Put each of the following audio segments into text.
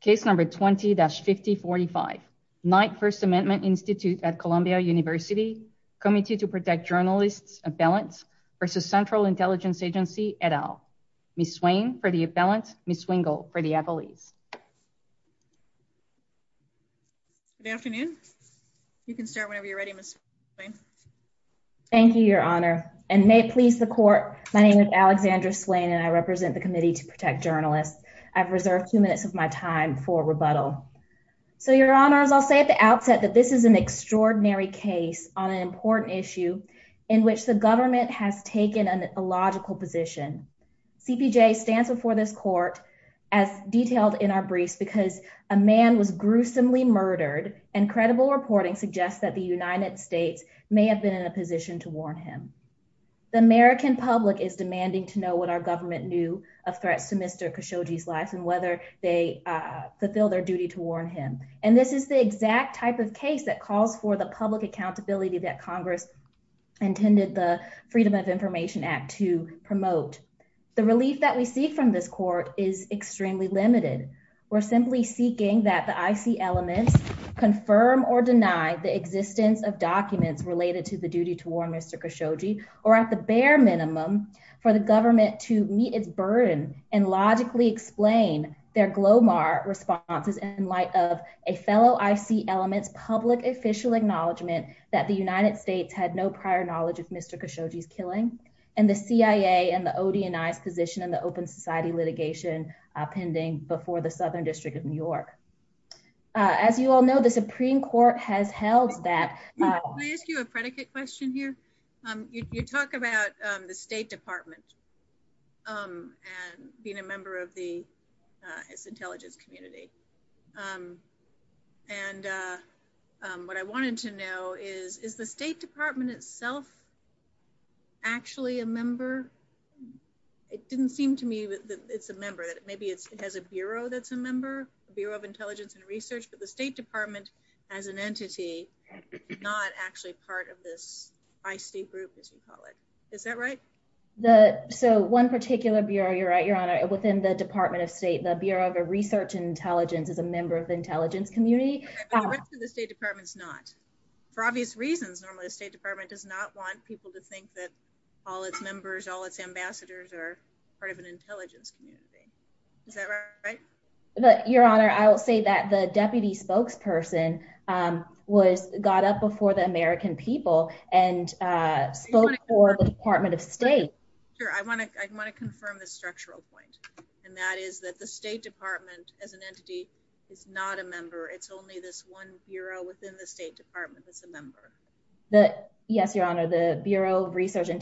Case number 20-5045, Knight First Amendment Institute at Columbia University, Committee to Protect Journalists' Appellants v. Central Intelligence Agency, et al. Ms. Swain for the appellants, Ms. Wingle for the affilies. Good afternoon. You can start whenever you're ready, Ms. Swain. Thank you, Your Honor, and may it please the Court, my name is Alexandra Swain and I represent the Committee to Protect Journalists. I've reserved two minutes of my time for rebuttal. So, Your Honors, I'll say at the outset that this is an extraordinary case on an important issue in which the government has taken an illogical position. CPJ stands before this Court as detailed in our briefs because a man was gruesomely murdered and credible reporting suggests that the United States may have been in a position to warn him. The American public is of threat to Mr. Khashoggi's life and whether they fulfill their duty to warn him. And this is the exact type of case that calls for the public accountability that Congress intended the Freedom of Information Act to promote. The relief that we see from this Court is extremely limited. We're simply seeking that the IC elements confirm or deny the existence of documents related to the minimum for the government to meet its burden and logically explain their Glomar responses in light of a fellow IC elements public official acknowledgment that the United States had no prior knowledge of Mr. Khashoggi's killing and the CIA and the ODNI's position in the open society litigation pending before the Southern District of New York. As you all know, the Supreme Court has held that. Can I ask you a predicate question here? You talk about the State Department and being a member of the intelligence community. And what I wanted to know is, is the State Department itself actually a member? It didn't seem to me that it's a member, that maybe it has a Bureau that's a member, Bureau of Intelligence and Research, but the State Department as an entity, not actually part of this IC group, as we call it. Is that right? So one particular Bureau, you're right, Your Honor, within the Department of State, the Bureau of Research and Intelligence is a member of the intelligence community. The State Department's not. For obvious reasons, normally the State Department does not want people to think that all its members, all its ambassadors are part of an intelligence community. Is that right? Your Honor, I will say that the deputy spokesperson got up before the American people and spoke for the Department of State. Sure. I want to confirm the structural point, and that is that the State Department, as an entity, is not a member. It's only this one Bureau within the State Department that's a member. Yes, Your Honor, the Bureau of Research, and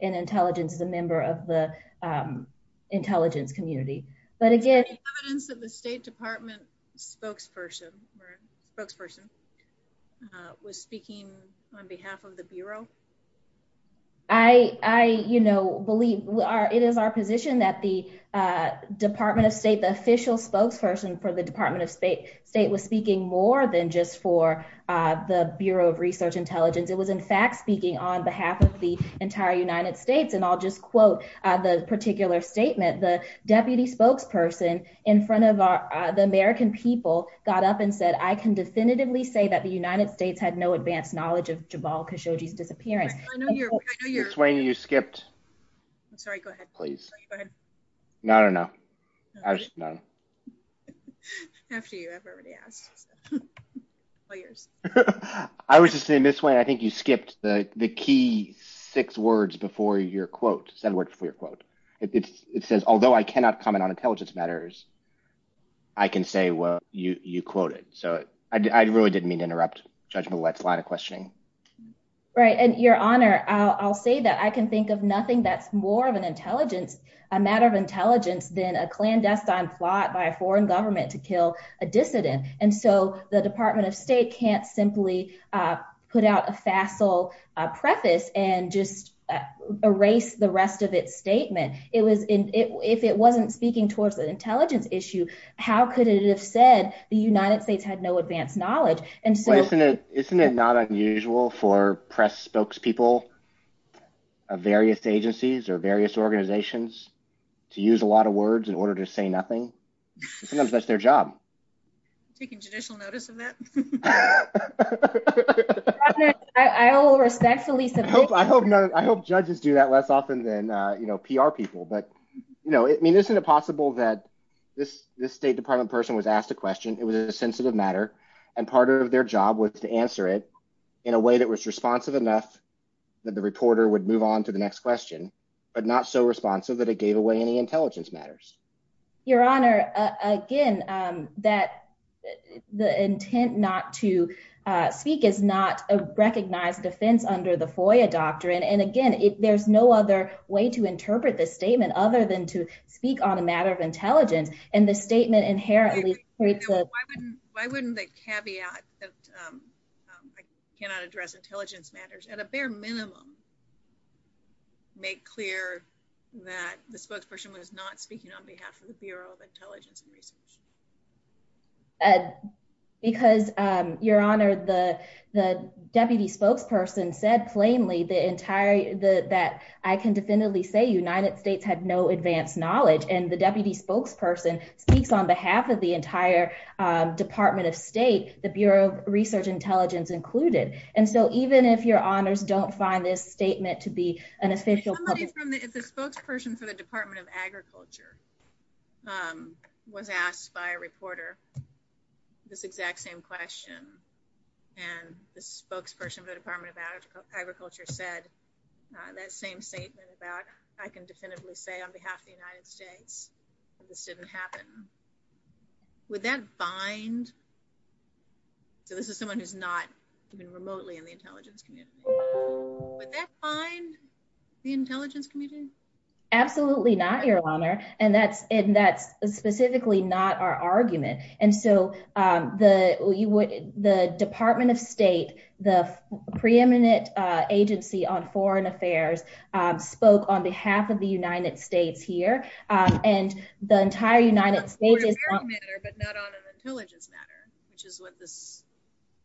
Intelligence is a member of the intelligence community. But again- Is there any evidence that the State Department spokesperson was speaking on behalf of the Bureau? I believe it is our position that the Department of State, the official spokesperson for the Department of State, was speaking more than just for the Bureau of Research Intelligence. It was, in fact, speaking on behalf of the entire United States. I'll just quote the particular statement. The deputy spokesperson in front of the American people got up and said, I can definitively say that the United States had no advanced knowledge of the matter. Your Honor, I'll say that I can think of nothing that's more of an intelligence, a matter of intelligence, than a clandestine plot by a foreign government to kill a dissident. The Department of State can't simply put out a facile preface and just erase the rest of its statement. If it wasn't speaking towards an intelligence issue, how could it have said the United States had no advanced knowledge? Isn't it not unusual for press spokespeople of various agencies or various organizations to use a lot of words in order to say nothing? Sometimes that's their job. I hope judges do that less often than PR people. Isn't it possible that this State Department person was asked a question, it was a sensitive matter, and part of their job was to answer it in a way that was responsive enough that the reporter would move on to the next question, but not so responsive that it gave away any intelligence matters? Your Honor, again, that the intent not to speak is not a recognized defense under the FOIA doctrine, and again, there's no other way to interpret this statement other than to speak on a matter of intelligence, and the statement inherently creates a- Why wouldn't the caveat that I cannot address intelligence matters at a bare minimum make clear that the spokesperson was not speaking on behalf of the Bureau of Intelligence and Research? Because, Your Honor, the Deputy Spokesperson said plainly that I can definitively say United States had no advanced knowledge, and the Deputy Spokesperson speaks on behalf of the entire Department of State, the Bureau of Research and Intelligence included, and so even if Your Honor, if the spokesperson for the Department of Agriculture was asked by a reporter this exact same question, and the spokesperson for the Department of Agriculture said that same statement about I can definitively say on behalf of the United States that this didn't happen, would that define the intelligence community? Absolutely not, Your Honor, and that's specifically not our argument, and so the Department of State, the preeminent agency on foreign affairs spoke on behalf of the United States here, and the entire United States- On a foreign affairs matter but not on an intelligence matter, which is what this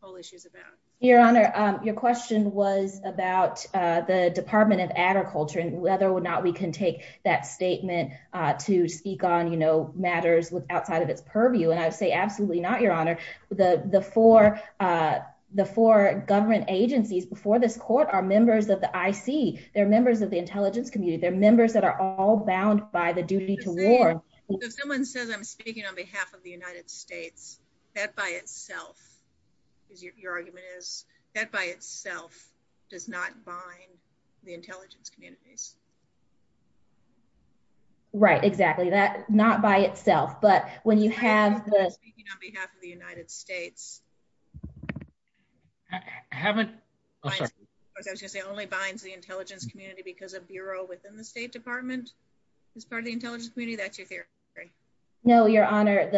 whole issue is about. Your Honor, your question was about the Department of Agriculture and whether or not we can take that statement to speak on, you know, matters outside of its purview, and I would say absolutely not, Your Honor. The four government agencies before this court are members of the IC. They're members of the intelligence community. They're members that are all bound by the duty to war. If someone says I'm speaking on behalf of the intelligence communities- Right, exactly, that not by itself, but when you have the- Speaking on behalf of the United States- I haven't- I was going to say it only binds the intelligence community because a bureau within the State Department is part of the intelligence community, that's your theory? No, Your Honor,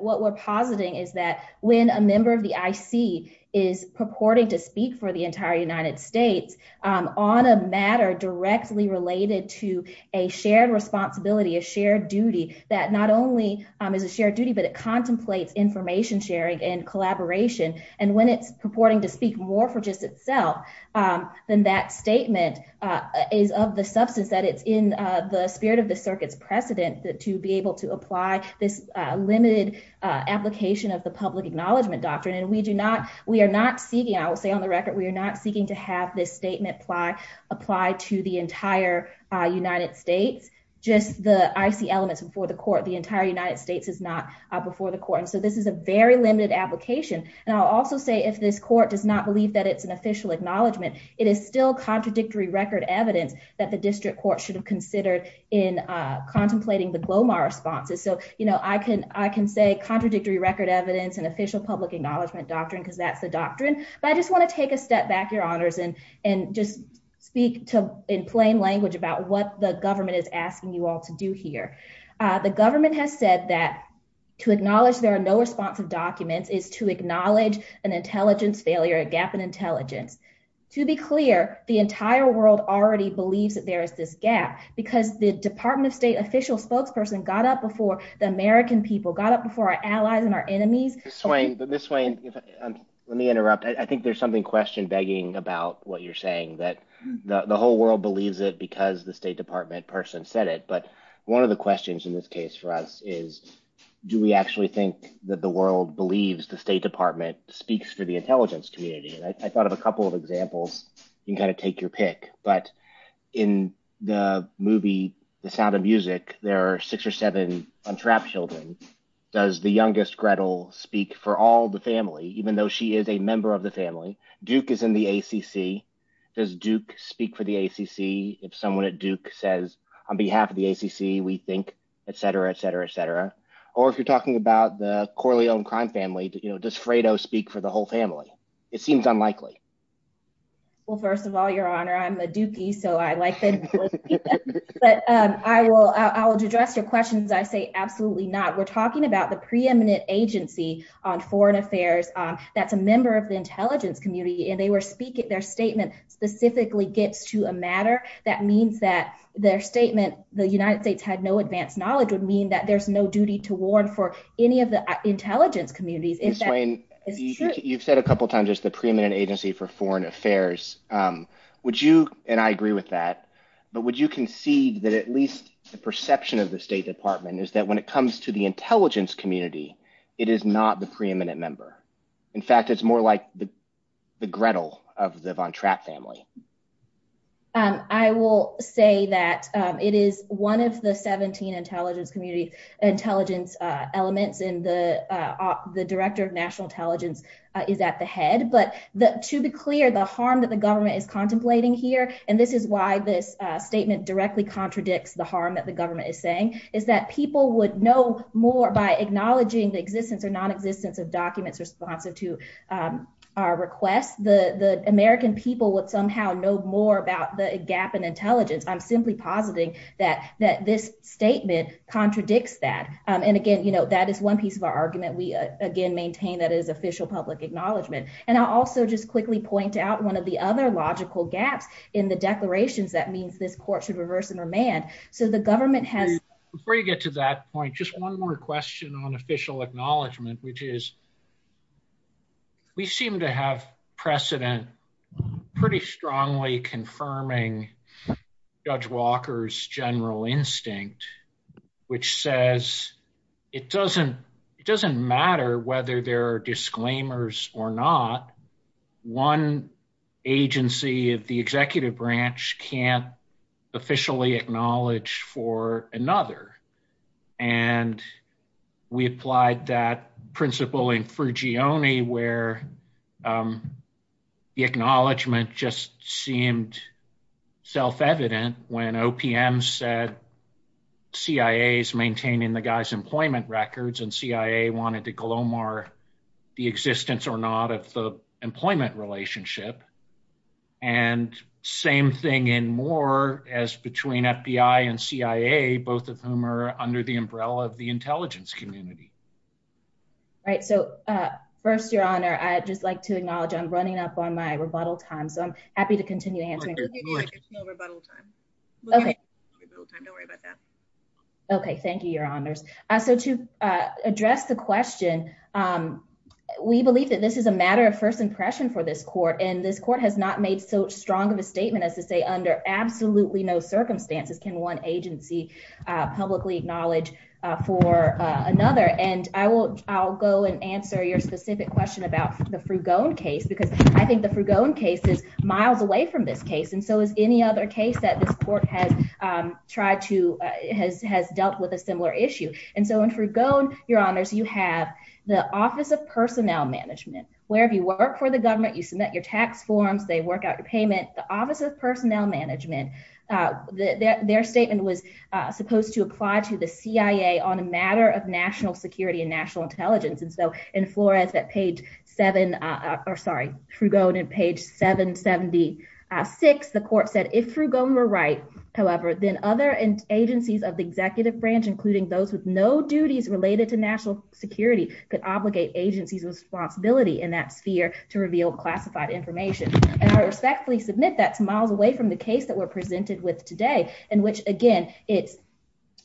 what we're positing is that when a member of the IC is purporting to speak for the entire United States on a matter directly related to a shared responsibility, a shared duty, that not only is a shared duty, but it contemplates information sharing and collaboration, and when it's purporting to speak more for just itself, then that statement is of the substance that it's in the spirit of the circuit's precedent to be able to apply this limited application of the public acknowledgement doctrine, and we do not- we are not seeking, I will say on the record, we are not seeking to have this statement apply to the entire United States, just the IC elements before the court. The entire United States is not before the court, and so this is a very limited application, and I'll also say if this court does not believe that it's an official acknowledgement, it is still contradictory record evidence that district court should have considered in contemplating the Glomar responses. So, you know, I can say contradictory record evidence and official public acknowledgement doctrine because that's the doctrine, but I just want to take a step back, Your Honors, and just speak in plain language about what the government is asking you all to do here. The government has said that to acknowledge there are no responsive documents is to acknowledge an intelligence failure, a gap in intelligence. To be clear, the entire world already believes that there is this gap because the Department of State official spokesperson got up before the American people, got up before our allies and our enemies. Ms. Swain, let me interrupt. I think there's something question begging about what you're saying that the whole world believes it because the State Department person said it, but one of the questions in this case for us is do we actually think that the world believes the State Department speaks for the intelligence community? And I thought of a couple of examples you can kind of take your pick, but in the movie, The Sound of Music, there are six or seven untrapped children. Does the youngest Gretel speak for all the family, even though she is a member of the family? Duke is in the ACC. Does Duke speak for the ACC? If someone at Duke says on behalf of the ACC, we think, et cetera, et cetera, et cetera. Or if you're talking about the family-owned crime family, does Fredo speak for the whole family? It seems unlikely. Well, first of all, Your Honor, I'm a Dukie, so I like that. But I will address your questions. I say absolutely not. We're talking about the preeminent agency on foreign affairs that's a member of the intelligence community, and they were speaking, their statement specifically gets to a matter. That means that their statement, the United States had no advanced knowledge, would mean that there's no duty to warn for any of the intelligence communities. Ms. Swain, you've said a couple of times, there's the preeminent agency for foreign affairs. Would you, and I agree with that, but would you concede that at least the perception of the State Department is that when it comes to the intelligence community, it is not the preeminent member. In fact, it's more like the Gretel of the intelligence community, intelligence elements, and the Director of National Intelligence is at the head. But to be clear, the harm that the government is contemplating here, and this is why this statement directly contradicts the harm that the government is saying, is that people would know more by acknowledging the existence or nonexistence of documents responsive to our requests. The American people would somehow know more about the gap in intelligence. I'm simply positing that this statement contradicts that. And again, you know, that is one piece of our argument. We again maintain that it is official public acknowledgement. And I'll also just quickly point out one of the other logical gaps in the declarations that means this court should reverse and remand. So the government has... Before you get to that point, just one more question on official acknowledgement, which is, we seem to have precedent, pretty strongly confirming Judge Walker's general instinct, which says, it doesn't matter whether there are disclaimers or not, one agency of the executive branch can't officially acknowledge for another. And we applied that principle in Frugione where the acknowledgement just seemed self-evident when OPM said, CIA is maintaining the guy's employment records and CIA wanted to and same thing in more as between FBI and CIA, both of whom are under the umbrella of the intelligence community. Right. So first, Your Honor, I just like to acknowledge I'm running up on my rebuttal time. So I'm happy to continue answering. No rebuttal time. Okay. Don't worry about that. Okay. Thank you, Your Honors. So to address the question, we believe that this is a matter of first impression for this court. And this court has not made so strong of a statement as to say, under absolutely no circumstances can one agency publicly acknowledge for another. And I'll go and answer your specific question about the Frugione case, because I think the Frugione case is miles away from this case. And so is any other case that this court has dealt with a similar issue. And so in Frugione, Your Honors, you have the Office of Personnel Management, wherever you the government, you submit your tax forms, they work out your payment, the Office of Personnel Management, their statement was supposed to apply to the CIA on a matter of national security and national intelligence. And so in Flores, that page seven, or sorry, Frugione and page 776, the court said if Frugione were right, however, then other agencies of the executive branch, including those with no duties related to national security could obligate agencies responsibility in that sphere to reveal classified information. And I respectfully submit that's miles away from the case that we're presented with today. And which again, it's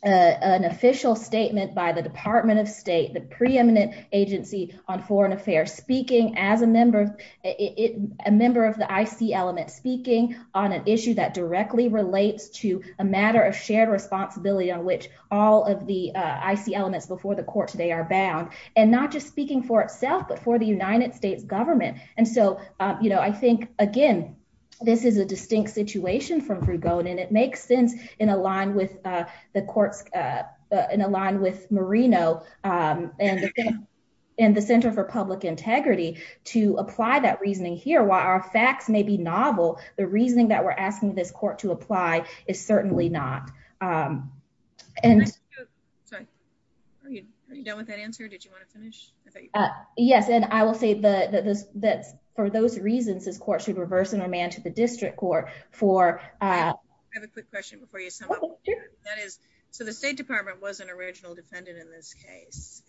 an official statement by the Department of State, the preeminent agency on foreign affairs speaking as a member, a member of the IC element speaking on an issue that directly relates to a matter of shared responsibility on which all of the IC elements before the court today are bound, and not just speaking for itself, but for the United States government. And so, you know, I think, again, this is a distinct situation from Frugione, and it makes sense in a line with the courts in a line with Marino and the Center for Public Integrity to apply that reasoning here, while our facts may be novel, the reasoning that we're asking this court to apply is certainly not. And so, are you done with that answer? Did you want to finish? Yes. And I will say that for those reasons, this court should reverse and remand to the district court for... I have a quick question before you. So the State Department was an original defendant in this case,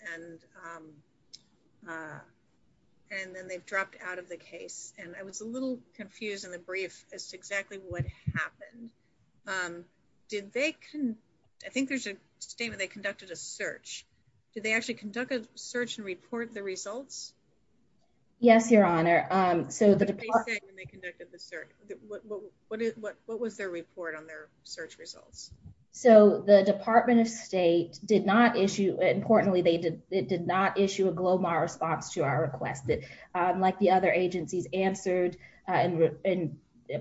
and then they've dropped out of the case. And I was a little confused in the brief as to exactly what happened. Did they... I think there's a statement, they conducted a search. Did they actually conduct a search and report the results? Yes, Your Honor. So the... What did they say when they conducted the search? What was their report on their search results? So the Department of State did not issue... Importantly, they did not issue a GLOMAR response to our request that, like the other agencies, answered and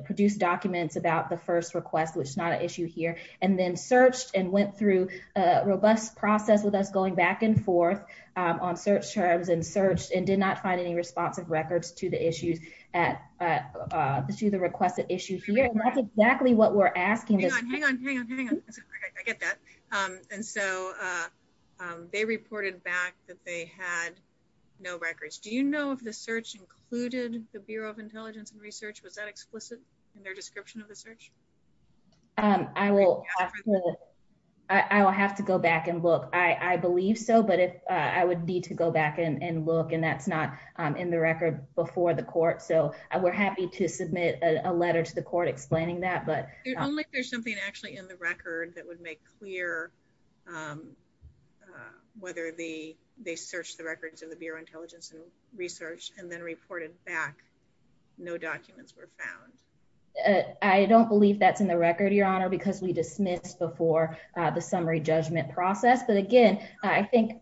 produced documents about the first request, which is not an issue here, and then searched and went through a robust process with us going back and forth on search terms and searched and did not find any responsive records to the issues at... To the requested issue here. And that's exactly what we're asking. Hang on, hang on, hang on. I get that. And so they reported back that they had no records. Do you know if the search included the Bureau of Intelligence and Research? Was that explicit in their description of the search? I will have to go back and look. I believe so, but I would need to go back and look, and that's not in the record before the court. So we're happy to submit a letter to the court explaining that, but... Only if there's something actually in the record that would make clear whether they searched the records of the Bureau of Intelligence and Research and then reported back no documents were found. I don't believe that's in the record, Your Honor, because we dismissed before the summary judgment process. But again, I think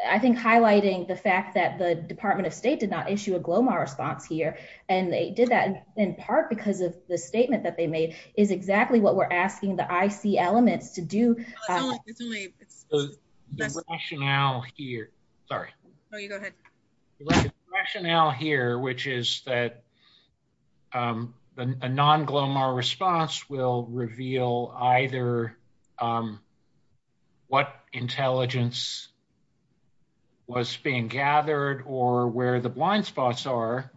highlighting the fact that the Department of State did not issue a GLOMAR response here, and they did that in part because of the statement that they made, is exactly what we're asking the IC elements to do. It's only... The rationale here... Sorry. No, you go ahead. The rationale here, which is that a non-GLOMAR response will reveal either what intelligence was being gathered or where the intelligence was being gathered,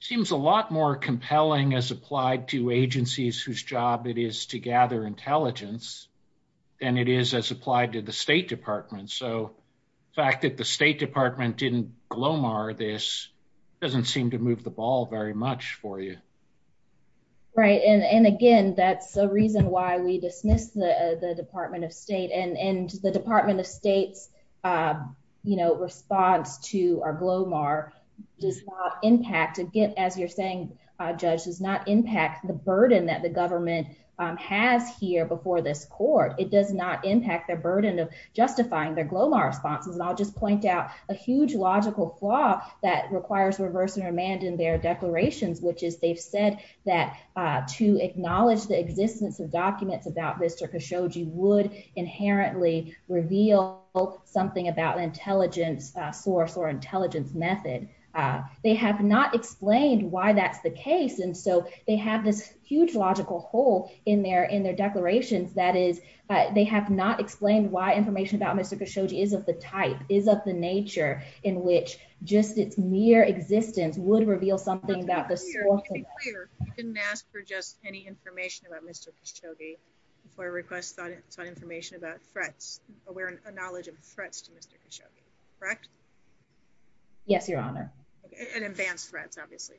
seems a lot more compelling as applied to agencies whose job it is to gather intelligence than it is as applied to the State Department. So the fact that the State Department didn't GLOMAR this doesn't seem to move the ball very much for you. Right. And again, that's a reason why we dismissed the Department of State. And the response to our GLOMAR does not impact... Again, as you're saying, Judge, does not impact the burden that the government has here before this court. It does not impact their burden of justifying their GLOMAR responses. And I'll just point out a huge logical flaw that requires reverse remand in their declarations, which is they've said that to acknowledge the existence of documents about Mr. Khashoggi would inherently reveal something about intelligence source or intelligence method. They have not explained why that's the case, and so they have this huge logical hole in their declarations. That is, they have not explained why information about Mr. Khashoggi is of the type, is of the nature, in which just its mere existence would reveal something about the source. You didn't ask for just any information about Mr. Khashoggi before I request that it's not information about threats, aware of knowledge of threats to Mr. Khashoggi, correct? Yes, Your Honor. And advanced threats, obviously,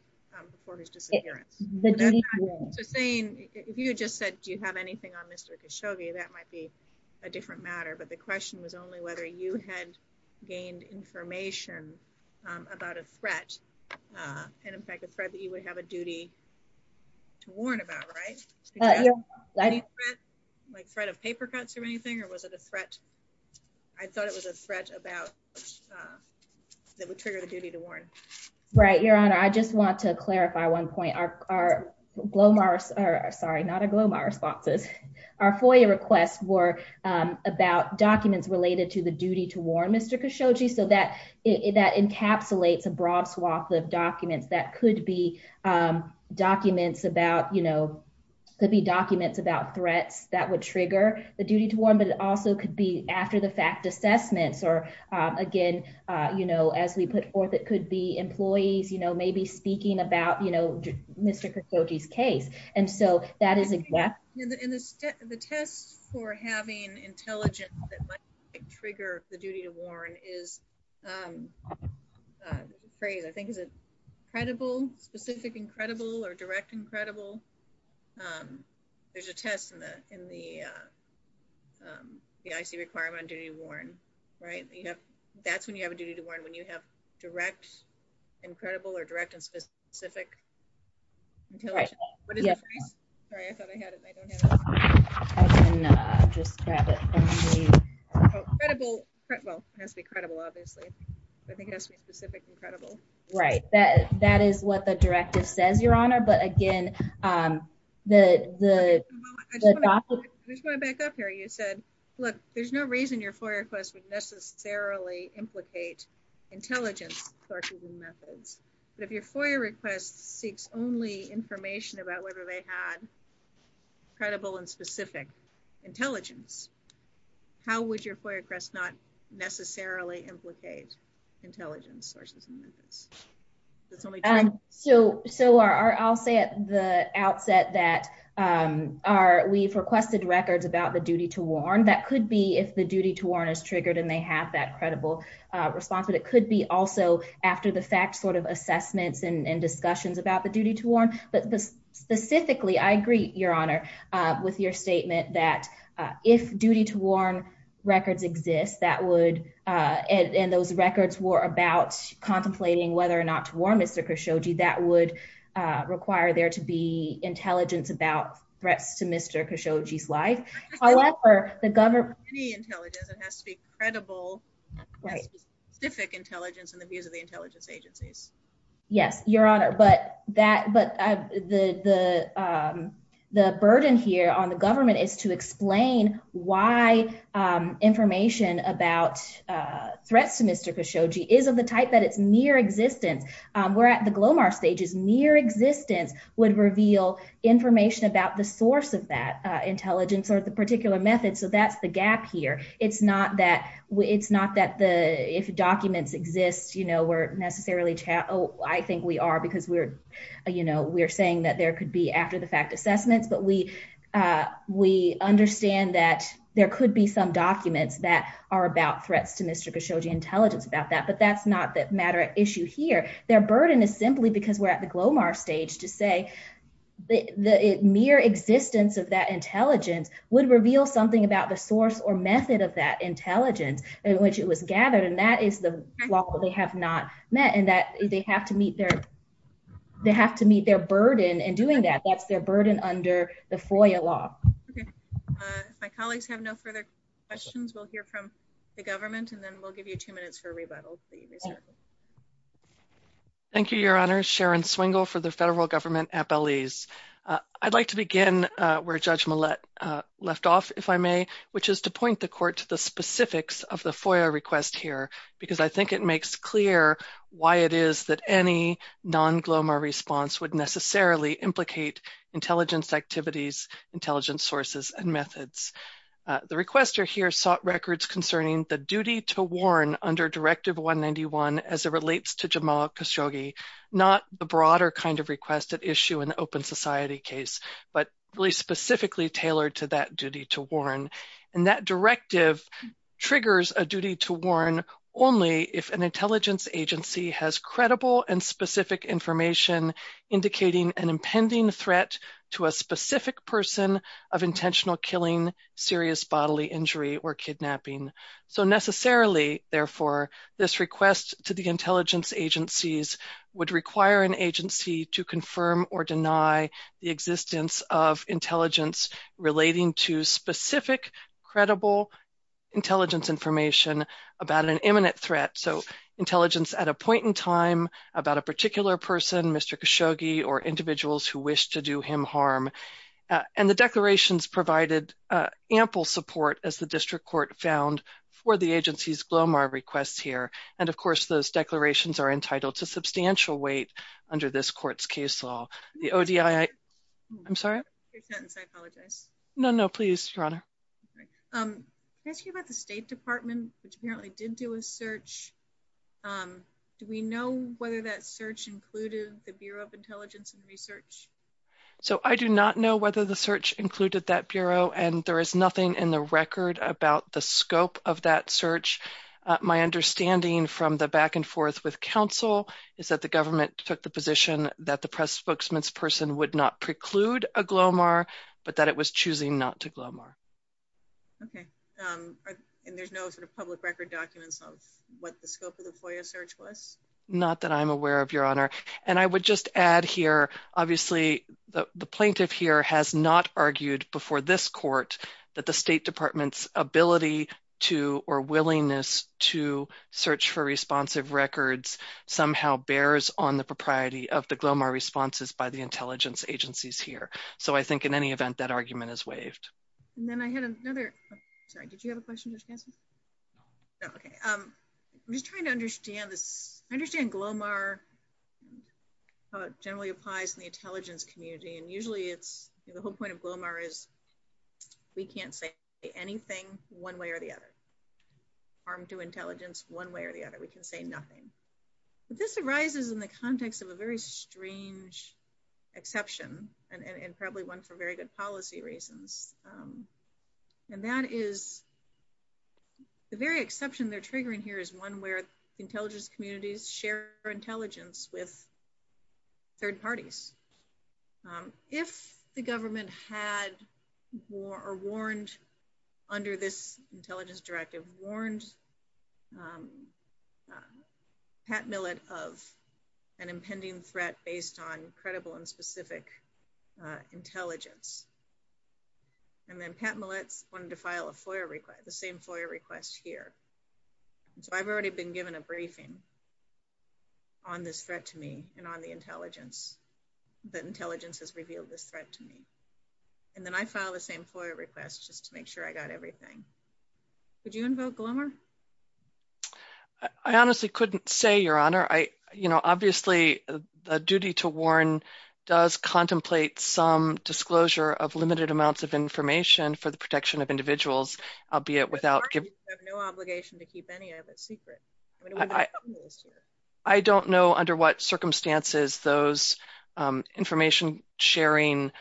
before his disappearance. So saying, if you just said, do you have anything on Mr. Khashoggi, that might be a different matter. But the question was only whether you had gained information about a threat and, in fact, a threat that you would have a duty to warn about, right? Like threat of paper cuts or anything, or was it a threat? I thought it was a threat about that would trigger the duty to warn. Right, Your Honor. I just want to clarify one point. Our GLOMAR, sorry, not our GLOMAR responses. Our FOIA requests were about documents related to the duty to warn Mr. Khashoggi. So that encapsulates a broad swath of documents that could be documents about, you know, could be documents about threats that would trigger the duty to warn. But it also could be after the fact assessments or, again, you know, as we put forth, it could be employees, you know, maybe speaking about, you know, Mr. Khashoggi's case. And so that is a gap. And the test for having intelligence that might trigger the duty to warn is the phrase, I think, is it credible, specific and credible, or direct and credible? There's a test in the IC requirement on duty to warn, right? That's when you have a duty to warn, when you have direct and credible or direct and specific. Right, that that is what the directive says, Your Honor. But again, the I just want to back up here. You said, look, there's no reason your FOIA request would intelligence sources and methods. But if your FOIA request seeks only information about whether they had credible and specific intelligence, how would your FOIA request not necessarily implicate intelligence sources and methods? That's the only time. So so our I'll say at the outset that our we've requested records about the duty to warn that could be if the duty to warn is triggered, and they have that credible response, but it could be also after the fact sort of assessments and discussions about the duty to warn. But specifically, I agree, Your Honor, with your statement that if duty to warn records exists, that would, and those records were about contemplating whether or not to warn Mr. Khashoggi, that would require there to be intelligence about threats to Mr. Khashoggi's However, the government has to be credible, specific intelligence and the views of the intelligence agencies. Yes, Your Honor, but that but the the the burden here on the government is to explain why information about threats to Mr. Khashoggi is of the type that it's near existence. We're at the Glomar stages near existence would reveal information about the source of that intelligence or the particular method. So that's the gap here. It's not that it's not that the if documents exist, you know, we're necessarily chat. Oh, I think we are because we're, you know, we're saying that there could be after the fact assessments, but we we understand that there could be some documents that are about threats to Mr. Khashoggi intelligence about that. But that's not that matter issue here. Their burden is simply because we're at the stage to say the mere existence of that intelligence would reveal something about the source or method of that intelligence in which it was gathered. And that is the law that they have not met and that they have to meet their they have to meet their burden and doing that. That's their burden under the FOIA law. My colleagues have no further questions. We'll hear from the government and then we'll give you two minutes for rebuttal. Thank you, Your Honor. Sharon Swingle for the Federal Government Appellees. I'd like to begin where Judge Millett left off, if I may, which is to point the court to the specifics of the FOIA request here, because I think it makes clear why it is that any non-GLOMA response would necessarily implicate intelligence activities, intelligence sources, and methods. The requester here sought records concerning the duty to warn under Directive 191 as it relates to Jamal Khashoggi, not the broader kind of requested issue in the Open Society case, but really specifically tailored to that duty to warn. And that directive triggers a duty to warn only if an intelligence agency has credible and specific information indicating an impending threat to a specific person of intentional killing, serious bodily injury, or kidnapping. So necessarily, therefore, this request to the intelligence agencies would require an agency to confirm or deny the existence of intelligence relating to specific credible intelligence information about an imminent threat. So intelligence at a point in time about a particular person, Mr. Khashoggi, or individuals who wish to do him harm. And the declarations provided ample support, as the district court found, for the agency's GLOMAR requests here. And of course, those declarations are entitled to substantial weight under this court's case law. The ODII... I'm sorry? No, no, please, Your Honor. Can I ask you about the State Department, which apparently did do a search? Do we know whether that search included the Bureau of Intelligence and Research? So I do not know whether the search included that Bureau, and there is nothing in the record about the scope of that search. My understanding from the back and forth with counsel is that the government took the position that the press spokesman's person would not preclude a GLOMAR, but that it was choosing not to GLOMAR. Okay. And there's no sort of public record documents of what the scope of the FOIA search was? Not that I'm aware of, Your Honor. And I would just add here, obviously, the plaintiff here has not argued before this court that the State Department's ability to or willingness to search for responsive records somehow bears on the propriety of the GLOMAR responses by the intelligence agencies here. So I think in any event, that argument is waived. I had another, sorry, did you have a question, Ms. Ganser? Okay. I'm just trying to understand this. I understand GLOMAR how it generally applies in the intelligence community, and usually it's, the whole point of GLOMAR is we can't say anything one way or the other. Harm to intelligence one way or the other. We can say nothing. But this arises in the context of a very strange exception, and probably one for good policy reasons. And that is, the very exception they're triggering here is one where intelligence communities share intelligence with third parties. If the government had or warned under this intelligence directive, warned Pat Millett of an impending threat based on credible and specific intelligence, and then Pat Millett wanted to file a FOIA request, the same FOIA request here. So I've already been given a briefing on this threat to me and on the intelligence, that intelligence has revealed this threat to me. And then I filed the same FOIA request just to make sure I got everything. Could you invoke GLOMAR? I honestly couldn't say, Your Honor. I, you know, obviously the duty to warn does contemplate some disclosure of limited amounts of information for the protection of individuals, albeit without- The parties have no obligation to keep any of it secret. I don't know under what circumstances those information sharing,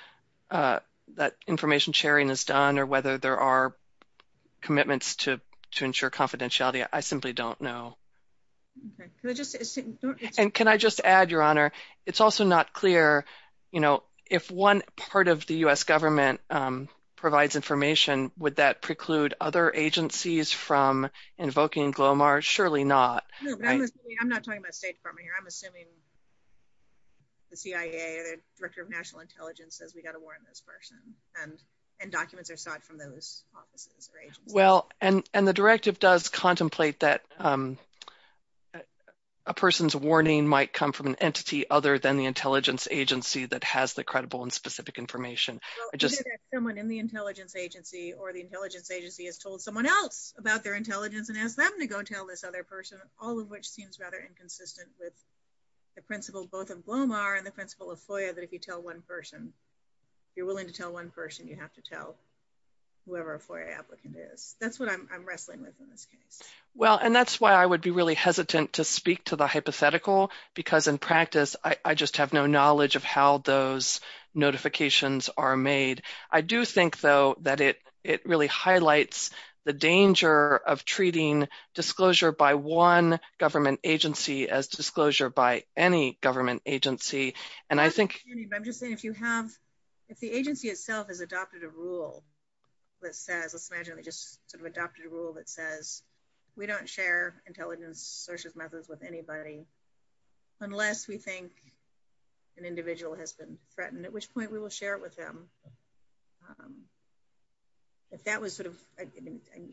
that information sharing is done, or whether there are commitments to ensure confidentiality. I simply don't know. And can I just add, Your Honor, it's also not clear, you know, if one part of the U.S. government provides information, would that preclude other agencies from invoking GLOMAR? Surely not. I'm not talking about State Department here. I'm assuming the CIA or the Director of National Intelligence. I don't know if the documents are sought from those offices or agencies. Well, and, and the directive does contemplate that a person's warning might come from an entity other than the intelligence agency that has the credible and specific information. Well, either there's someone in the intelligence agency or the intelligence agency has told someone else about their intelligence and asked them to go tell this other person, all of which seems rather inconsistent with the principle, both of GLOMAR and the principle of FOIA, that if you to tell one person, you have to tell whoever a FOIA applicant is. That's what I'm wrestling with in this case. Well, and that's why I would be really hesitant to speak to the hypothetical, because in practice, I just have no knowledge of how those notifications are made. I do think, though, that it, it really highlights the danger of treating disclosure by one government agency as disclosure by any government agency. And I think, I'm just saying, if you have, if the agency itself has adopted a rule that says, let's imagine they just sort of adopted a rule that says we don't share intelligence sources methods with anybody, unless we think an individual has been threatened, at which point we will share it with them. If that was sort of,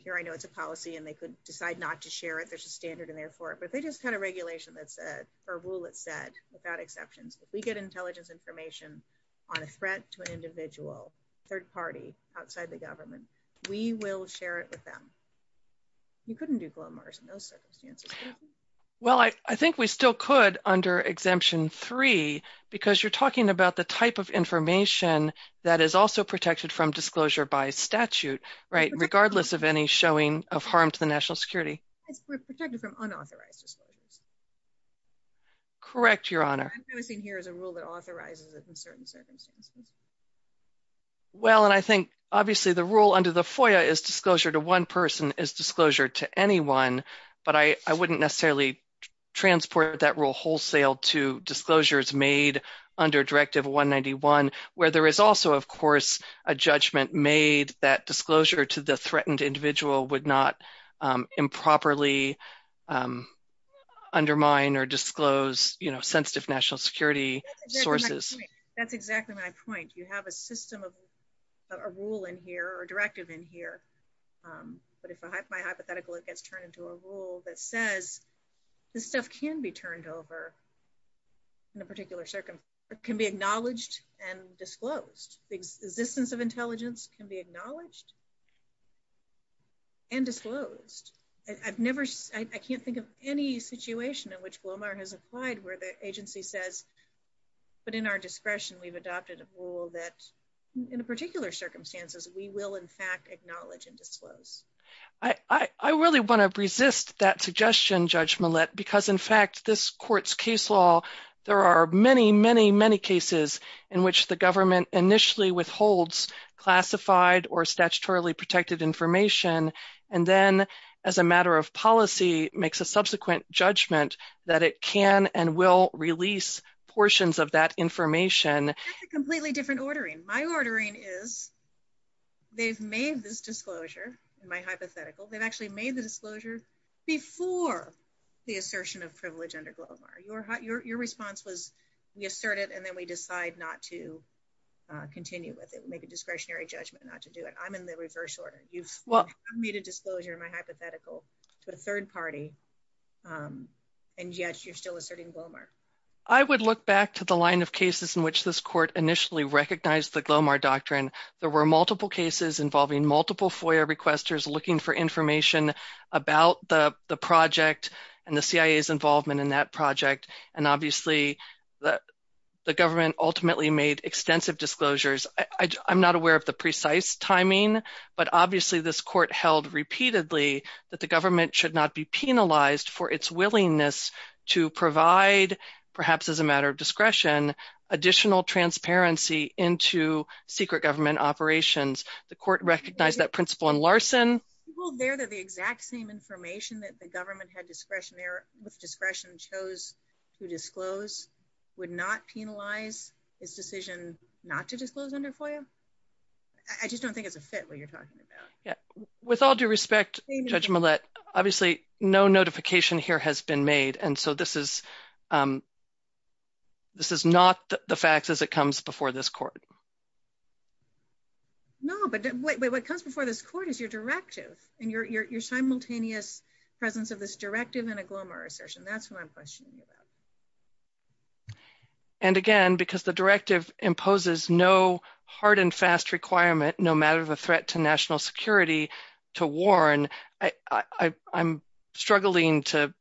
here, I know it's a policy and they could decide not to share it, there's a standard in there for it, but they had a regulation that said, or rule that said, without exceptions, if we get intelligence information on a threat to an individual, third party outside the government, we will share it with them. You couldn't do GLOMAR in those circumstances. Well, I think we still could under exemption three, because you're talking about the type of information that is also protected from disclosure by statute, right, regardless of any showing of harm to the security. It's protected from unauthorized disclosures. Correct, Your Honor. I'm noticing here is a rule that authorizes it in certain circumstances. Well, and I think, obviously, the rule under the FOIA is disclosure to one person is disclosure to anyone, but I wouldn't necessarily transport that rule wholesale to disclosures made under Directive 191, where there is also, of course, a judgment made that disclosure to the threatened individual would not improperly undermine or disclose, you know, sensitive national security sources. That's exactly my point. You have a system of a rule in here or directive in here, but if by hypothetical, it gets turned into a rule that says this stuff can be turned over in a particular circumstance, can be acknowledged and disclosed. The existence of intelligence can be acknowledged and disclosed. I've never, I can't think of any situation in which BLOMAR has applied where the agency says, but in our discretion, we've adopted a rule that in particular circumstances, we will, in fact, acknowledge and disclose. I really want to resist that suggestion, Judge Millett, because, in fact, this court's case law, there are many, many cases in which the government initially withholds classified or statutorily protected information, and then, as a matter of policy, makes a subsequent judgment that it can and will release portions of that information. That's a completely different ordering. My ordering is they've made this disclosure, in my hypothetical, they've actually made the disclosure before the response was we assert it, and then, we decide not to continue with it. We make a discretionary judgment not to do it. I'm in the reverse order. You've made a disclosure, in my hypothetical, to a third party, and yet, you're still asserting BLOMAR. I would look back to the line of cases in which this court initially recognized the BLOMAR doctrine. There were multiple cases involving multiple FOIA requesters looking for information about the project and the CIA's involvement in that project, and obviously, the government ultimately made extensive disclosures. I'm not aware of the precise timing, but obviously, this court held repeatedly that the government should not be penalized for its willingness to provide, perhaps as a matter of discretion, additional transparency into secret government operations. The court recognized that principle in Larson. People there, they're the exact same information that the government had discretionary with discretion, chose to disclose, would not penalize its decision not to disclose under FOIA. I just don't think it's a fit what you're talking about. Yeah, with all due respect, Judge Millett, obviously, no notification here has been made, and so, this is not the facts as it comes before this court. No, but what comes before this court is your directive, and your assertion. That's what I'm questioning about. And again, because the directive imposes no hard and fast requirement, no matter the threat to national security, to warn, I'm struggling to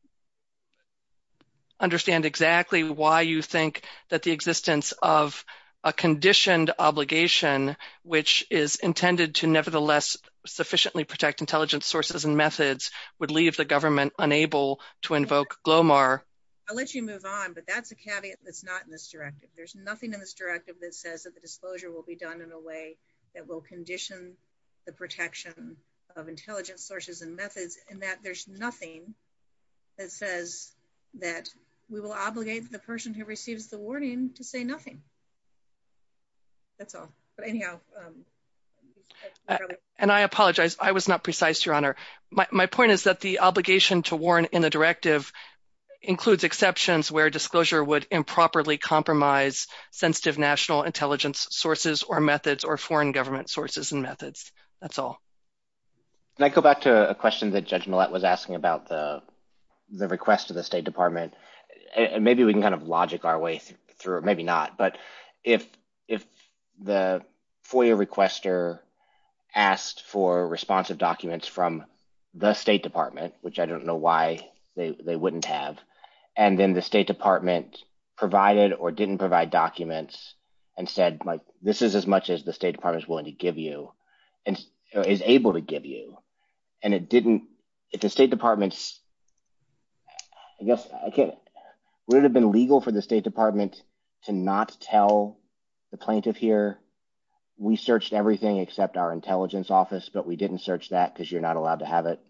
understand exactly why you think that the existence of a conditioned obligation, which is intended to nevertheless sufficiently protect intelligence sources and methods, would leave the government unable to invoke GLOMAR. I'll let you move on, but that's a caveat that's not in this directive. There's nothing in this directive that says that the disclosure will be done in a way that will condition the protection of intelligence sources and methods, and that there's nothing that says that we will obligate the person who receives the warning to say nothing. That's all. But anyhow. And I apologize. I was not precise, Your Honor. My point is that the obligation to warn in the directive includes exceptions where disclosure would improperly compromise sensitive national intelligence sources or methods or foreign government sources and methods. That's all. Can I go back to a question that Judge Millett was asking about the request of the State Department? Maybe we can kind of logic our way through it. Maybe not. But if the FOIA requester asked for responsive documents from the State Department, which I don't know why they wouldn't have, and then the State Department provided or didn't provide documents and said, this is as much as the State Department is willing to give you, and is able to give you, and it didn't, if the State Department's, I guess, would it have been legal for the State Department to not tell the plaintiff here, we searched everything except our intelligence office, but we didn't search that because you're not allowed to have it?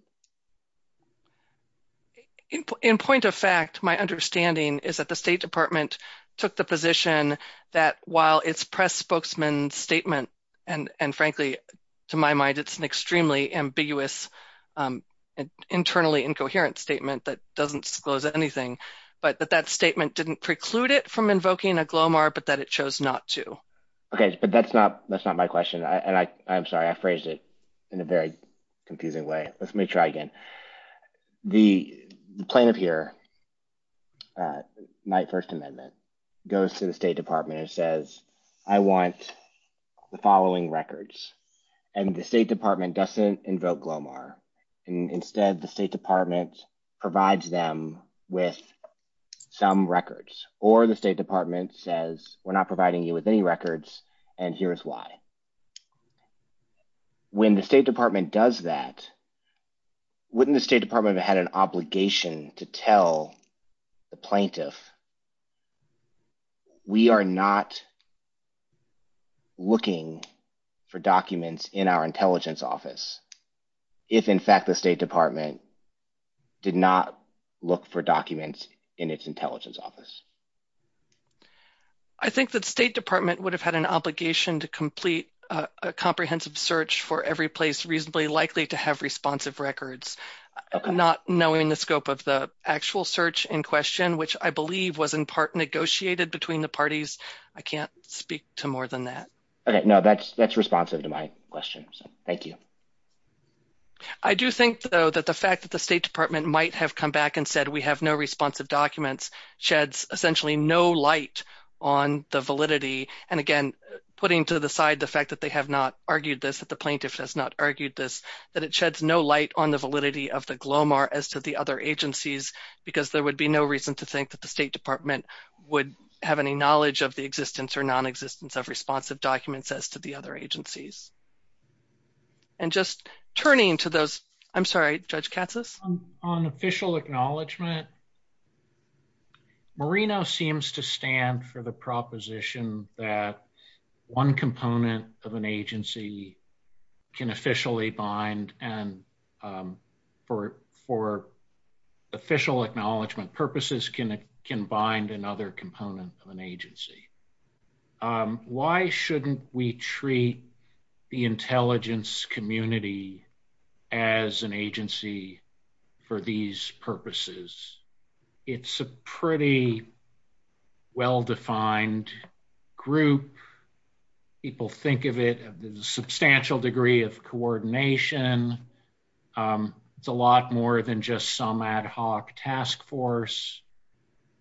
In point of fact, my understanding is that the State Department took the position that while its press spokesman statement, and frankly, to my mind, it's an extremely ambiguous, internally incoherent statement that doesn't disclose anything, but that that statement didn't preclude it from invoking a GLOMAR, but that it chose not to. Okay, but that's not my question. And I'm sorry, I phrased it in a very confusing way. Let me try again. The plaintiff here, Knight First Amendment, goes to the State Department and says, I want the following records, and the State Department doesn't invoke GLOMAR. Instead, the State Department provides them with some records, or the State Department says, we're not providing you with any records, and here's why. When the State Department does that, wouldn't the State Department have had an obligation to tell the plaintiff, we are not looking for documents in our intelligence office, if in fact, the State Department did not look for documents in its intelligence office? I think that the State Department would have had an obligation to complete a comprehensive search for every place reasonably likely to have responsive records, not knowing the scope of the actual search in question, which I believe was in part negotiated between the parties. I can't speak to more than that. Okay, no, that's responsive to my question, so thank you. I do think, though, that the fact that the State Department might have come back and said, we have no responsive documents, sheds essentially no light on the validity. And again, putting to the side the fact that they have not argued this, that the plaintiff has not argued this, that it sheds no light on the validity of the GLOMAR as to the other agencies, because there would be no reason to think that the State Department would have any knowledge of the existence or non-existence of responsive documents as to the other agencies. And just turning to those, I'm sorry, Judge Katsas? On official acknowledgement, Merino seems to stand for the proposition that one component of an agency can officially bind, and for official acknowledgement purposes can bind another component of an agency. Why shouldn't we treat the intelligence community as an agency for these purposes? It's a pretty well-defined group. People think of it as a substantial degree of coordination. It's a lot more than just some ad hoc task force.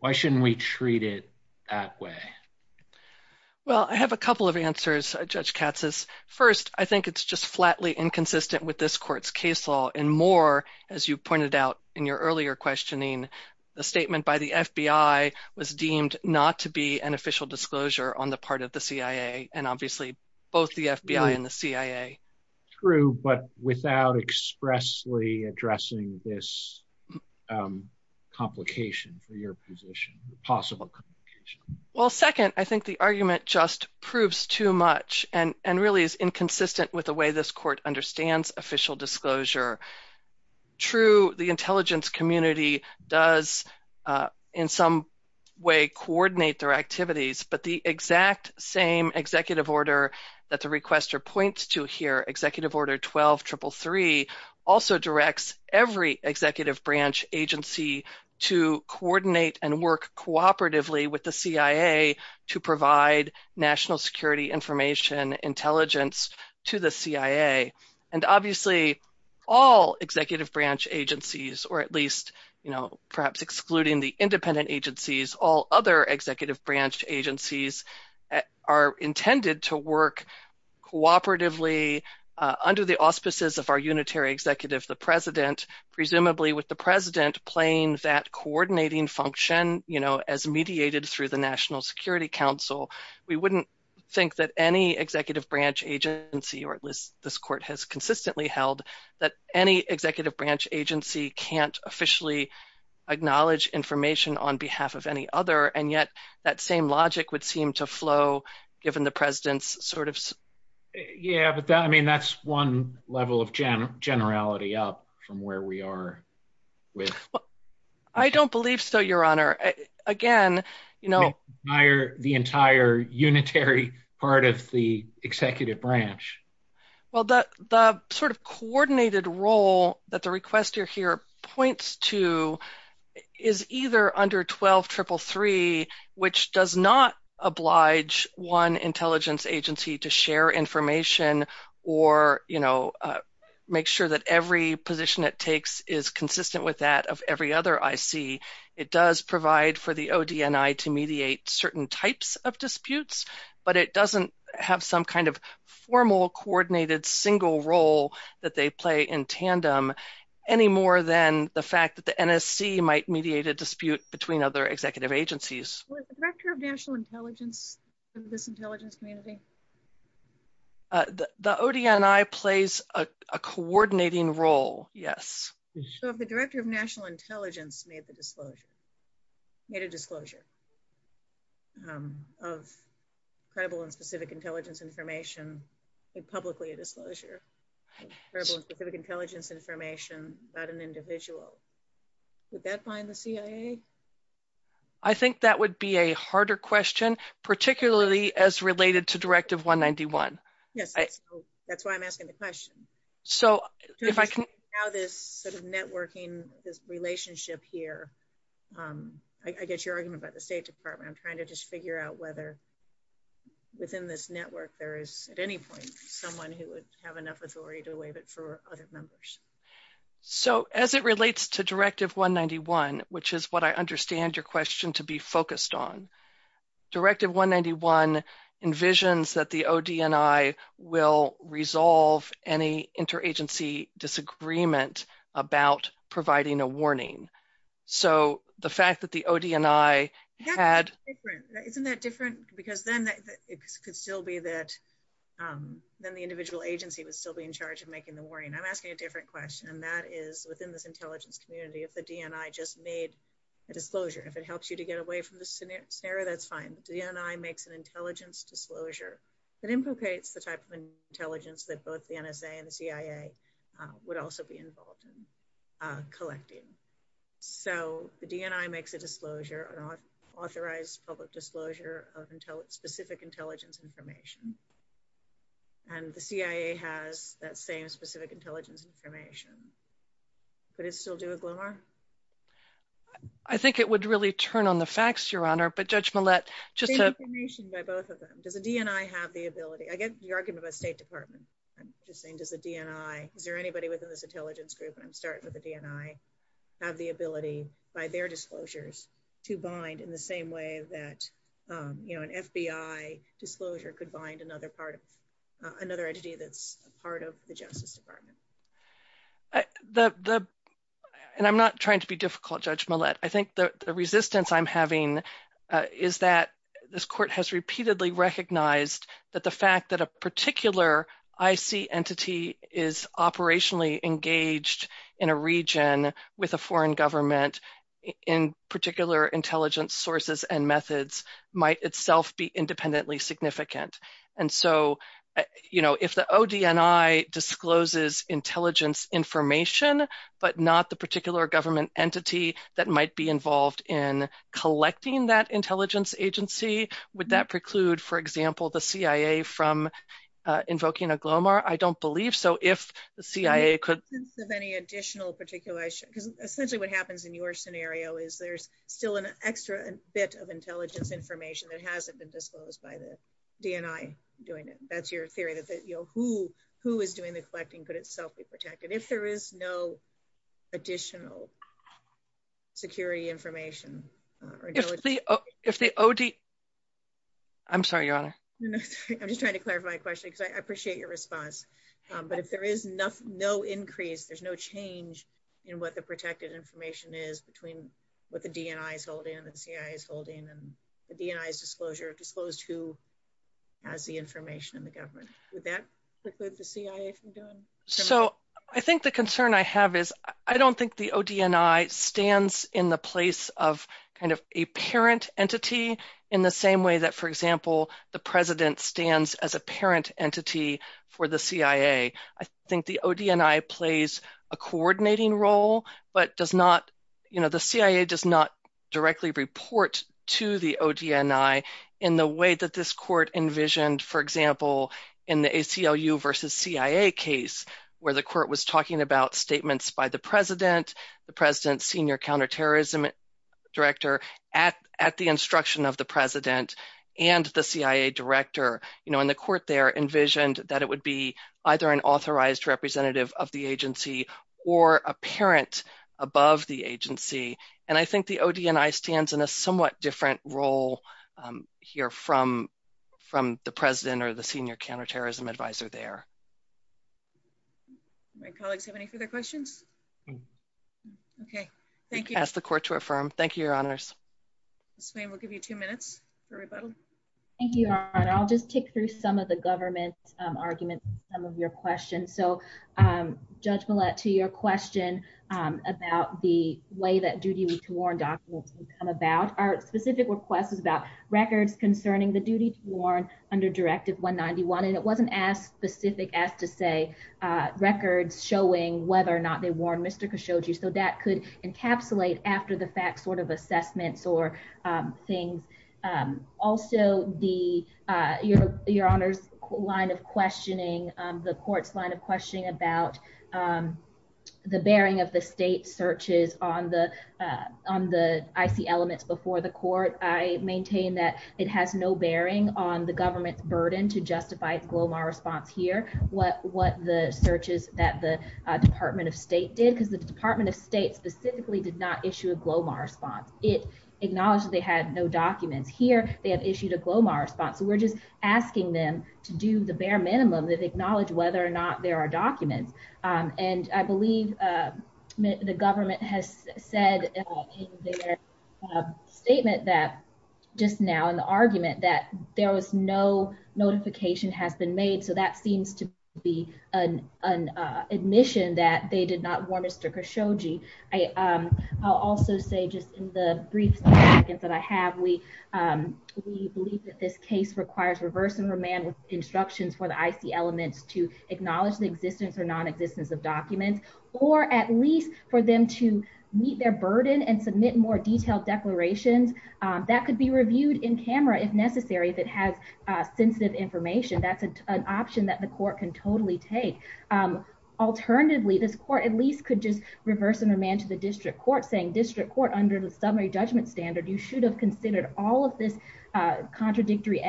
Why shouldn't we treat it that way? Well, I have a couple of answers, Judge Katsas. First, I think it's just flatly inconsistent with this court's case law, and more, as you pointed out in your earlier questioning, the statement by the FBI was deemed not to be an official disclosure on the part of the CIA, and obviously both the FBI and the CIA. True, but without expressly addressing this complication for your position, possible complication. Well, second, I think the argument just proves too much and really is inconsistent with the way this court understands official disclosure. True, the intelligence community does in some way coordinate their activities, but the exact same executive order that the requester points to here, Executive Order 12333, also directs every executive branch agency to coordinate and work cooperatively with the CIA to provide national security information intelligence to the CIA, and obviously all executive branch agencies, or at least, you know, perhaps excluding the independent agencies, all other executive branch agencies are intended to work cooperatively under the auspices of our unitary executive, the President, presumably with the President playing that coordinating function, you know, as mediated through the National Security Council. We wouldn't think that any executive branch agency, or at least this court has consistently held that any executive branch agency can't officially acknowledge information on behalf of any other, and yet that same logic would seem to flow given the President's sort of... Yeah, but that, I mean, that's one level of generality up from where we are with... I don't believe so, Your Honor. Again, you know... The entire unitary part of the executive branch. Well, the sort of coordinated role that the requester here points to is either under 12333, which does not oblige one intelligence agency to share information or, you know, make sure that every position it takes is consistent with that of every other IC. It does provide for the ODNI to mediate certain types of disputes, but it doesn't have some kind of formal coordinated single role that they play in tandem any more than the fact that the NSC might mediate a dispute between other executive agencies. Was the Director of National Intelligence in this intelligence community? The ODNI plays a coordinating role, yes. So if the Director of National Intelligence made the disclosure, made a disclosure of credible and specific intelligence information, made publicly a disclosure of credible and specific intelligence information about an individual, would that bind the CIA? I think that would be a harder question, particularly as related to Directive 191. Yes, that's why I'm asking the question. So if I can... Now this sort of networking, this relationship here, I get your argument about the State Department. I'm trying to just figure out whether within this network there is at any point someone who would have authority to waive it for other members. So as it relates to Directive 191, which is what I understand your question to be focused on, Directive 191 envisions that the ODNI will resolve any interagency disagreement about providing a warning. So the fact that the ODNI had... be in charge of making the warning. I'm asking a different question, and that is within this intelligence community if the DNI just made a disclosure. If it helps you to get away from the scenario, that's fine. The DNI makes an intelligence disclosure that implicates the type of intelligence that both the NSA and the CIA would also be involved in collecting. So the DNI makes a disclosure, an authorized public disclosure of specific intelligence information, and the CIA has that same specific intelligence information. Could it still do a glimmer? I think it would really turn on the facts, Your Honor, but Judge Millett... Same information by both of them. Does the DNI have the ability... I get your argument about State Department. I'm just saying does the DNI... Is there anybody within this intelligence group, and I'm starting with the DNI, have the ability by their disclosures to bind in the same way that, you know, an FBI disclosure could bind another entity that's a part of the Justice Department? And I'm not trying to be difficult, Judge Millett. I think the resistance I'm having is that this court has repeatedly recognized that the fact that a particular IC entity is operationally engaged in a region with a foreign government in particular intelligence sources and methods might itself be independently significant. And so, you know, if the ODNI discloses intelligence information but not the particular government entity that might be involved in collecting that intelligence agency, would that preclude, for example, the CIA from invoking a glomar? I don't believe so. If the CIA could... In the absence of any additional particular... Essentially what happens in your scenario is there's still an extra bit of intelligence information that hasn't been disclosed by the DNI doing it. That's your theory that, you know, who is doing the collecting could itself be protected. If there is no additional security information... If the OD... I'm sorry, Your Honor. I'm just trying to clarify my question because I appreciate your response. But if there is no increase, there's no change in what the information is between what the DNI is holding and the CIA is holding and the DNI's disclosure disclosed who has the information in the government. Would that preclude the CIA from doing... So I think the concern I have is I don't think the ODNI stands in the place of kind of a parent entity in the same way that, for example, the president stands as a parent entity for the CIA. I think the ODNI plays a coordinating role but does not, you know, the CIA does not directly report to the ODNI in the way that this court envisioned, for example, in the ACLU versus CIA case where the court was talking about statements by the president, the president's senior counterterrorism director at the instruction of the president and the CIA director, you know, the court there envisioned that it would be either an authorized representative of the agency or a parent above the agency. And I think the ODNI stands in a somewhat different role here from the president or the senior counterterrorism advisor there. My colleagues have any further questions? Okay. Thank you. Ask the court to affirm. Thank you, Your Honors. Ms. Swain, we'll give you two minutes for rebuttal. Thank you, Your Honor. I'll just tick through some of the government's arguments and some of your questions. So, Judge Millett, to your question about the way that duty to warn documents would come about, our specific request is about records concerning the duty to warn under Directive 191, and it wasn't as specific as to say records showing whether or not they warned Mr. Khashoggi, so that could encapsulate after-the-fact sort of assessments or things. Also, Your Honor's line of questioning, the court's line of questioning about the bearing of the state searches on the IC elements before the court, I maintain that it has no bearing on the government's burden to justify its Glomar response here, what the the Department of State did, because the Department of State specifically did not issue a Glomar response. It acknowledged that they had no documents. Here, they have issued a Glomar response, so we're just asking them to do the bare minimum of acknowledge whether or not there are documents, and I believe the government has said in their statement that just now in the admission that they did not warn Mr. Khashoggi. I'll also say just in the brief seconds that I have, we believe that this case requires reverse and remand with instructions for the IC elements to acknowledge the existence or non-existence of documents, or at least for them to meet their burden and submit more detailed declarations that could be reviewed in camera if necessary, if it has sensitive information. That's an option that the court can totally take. Alternatively, this court at least could just reverse and remand to the district court saying district court under the summary judgment standard, you should have considered all of this contradictory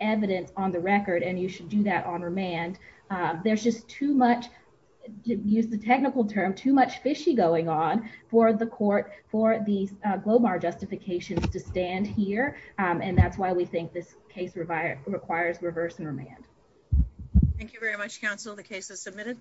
evidence on the record, and you should do that on remand. There's just too much, to use the technical term, too much fishy going on for the court, for the Globar justifications to stand here, and that's why we think this case requires reverse and remand. Thank you very much, counsel. The case is submitted.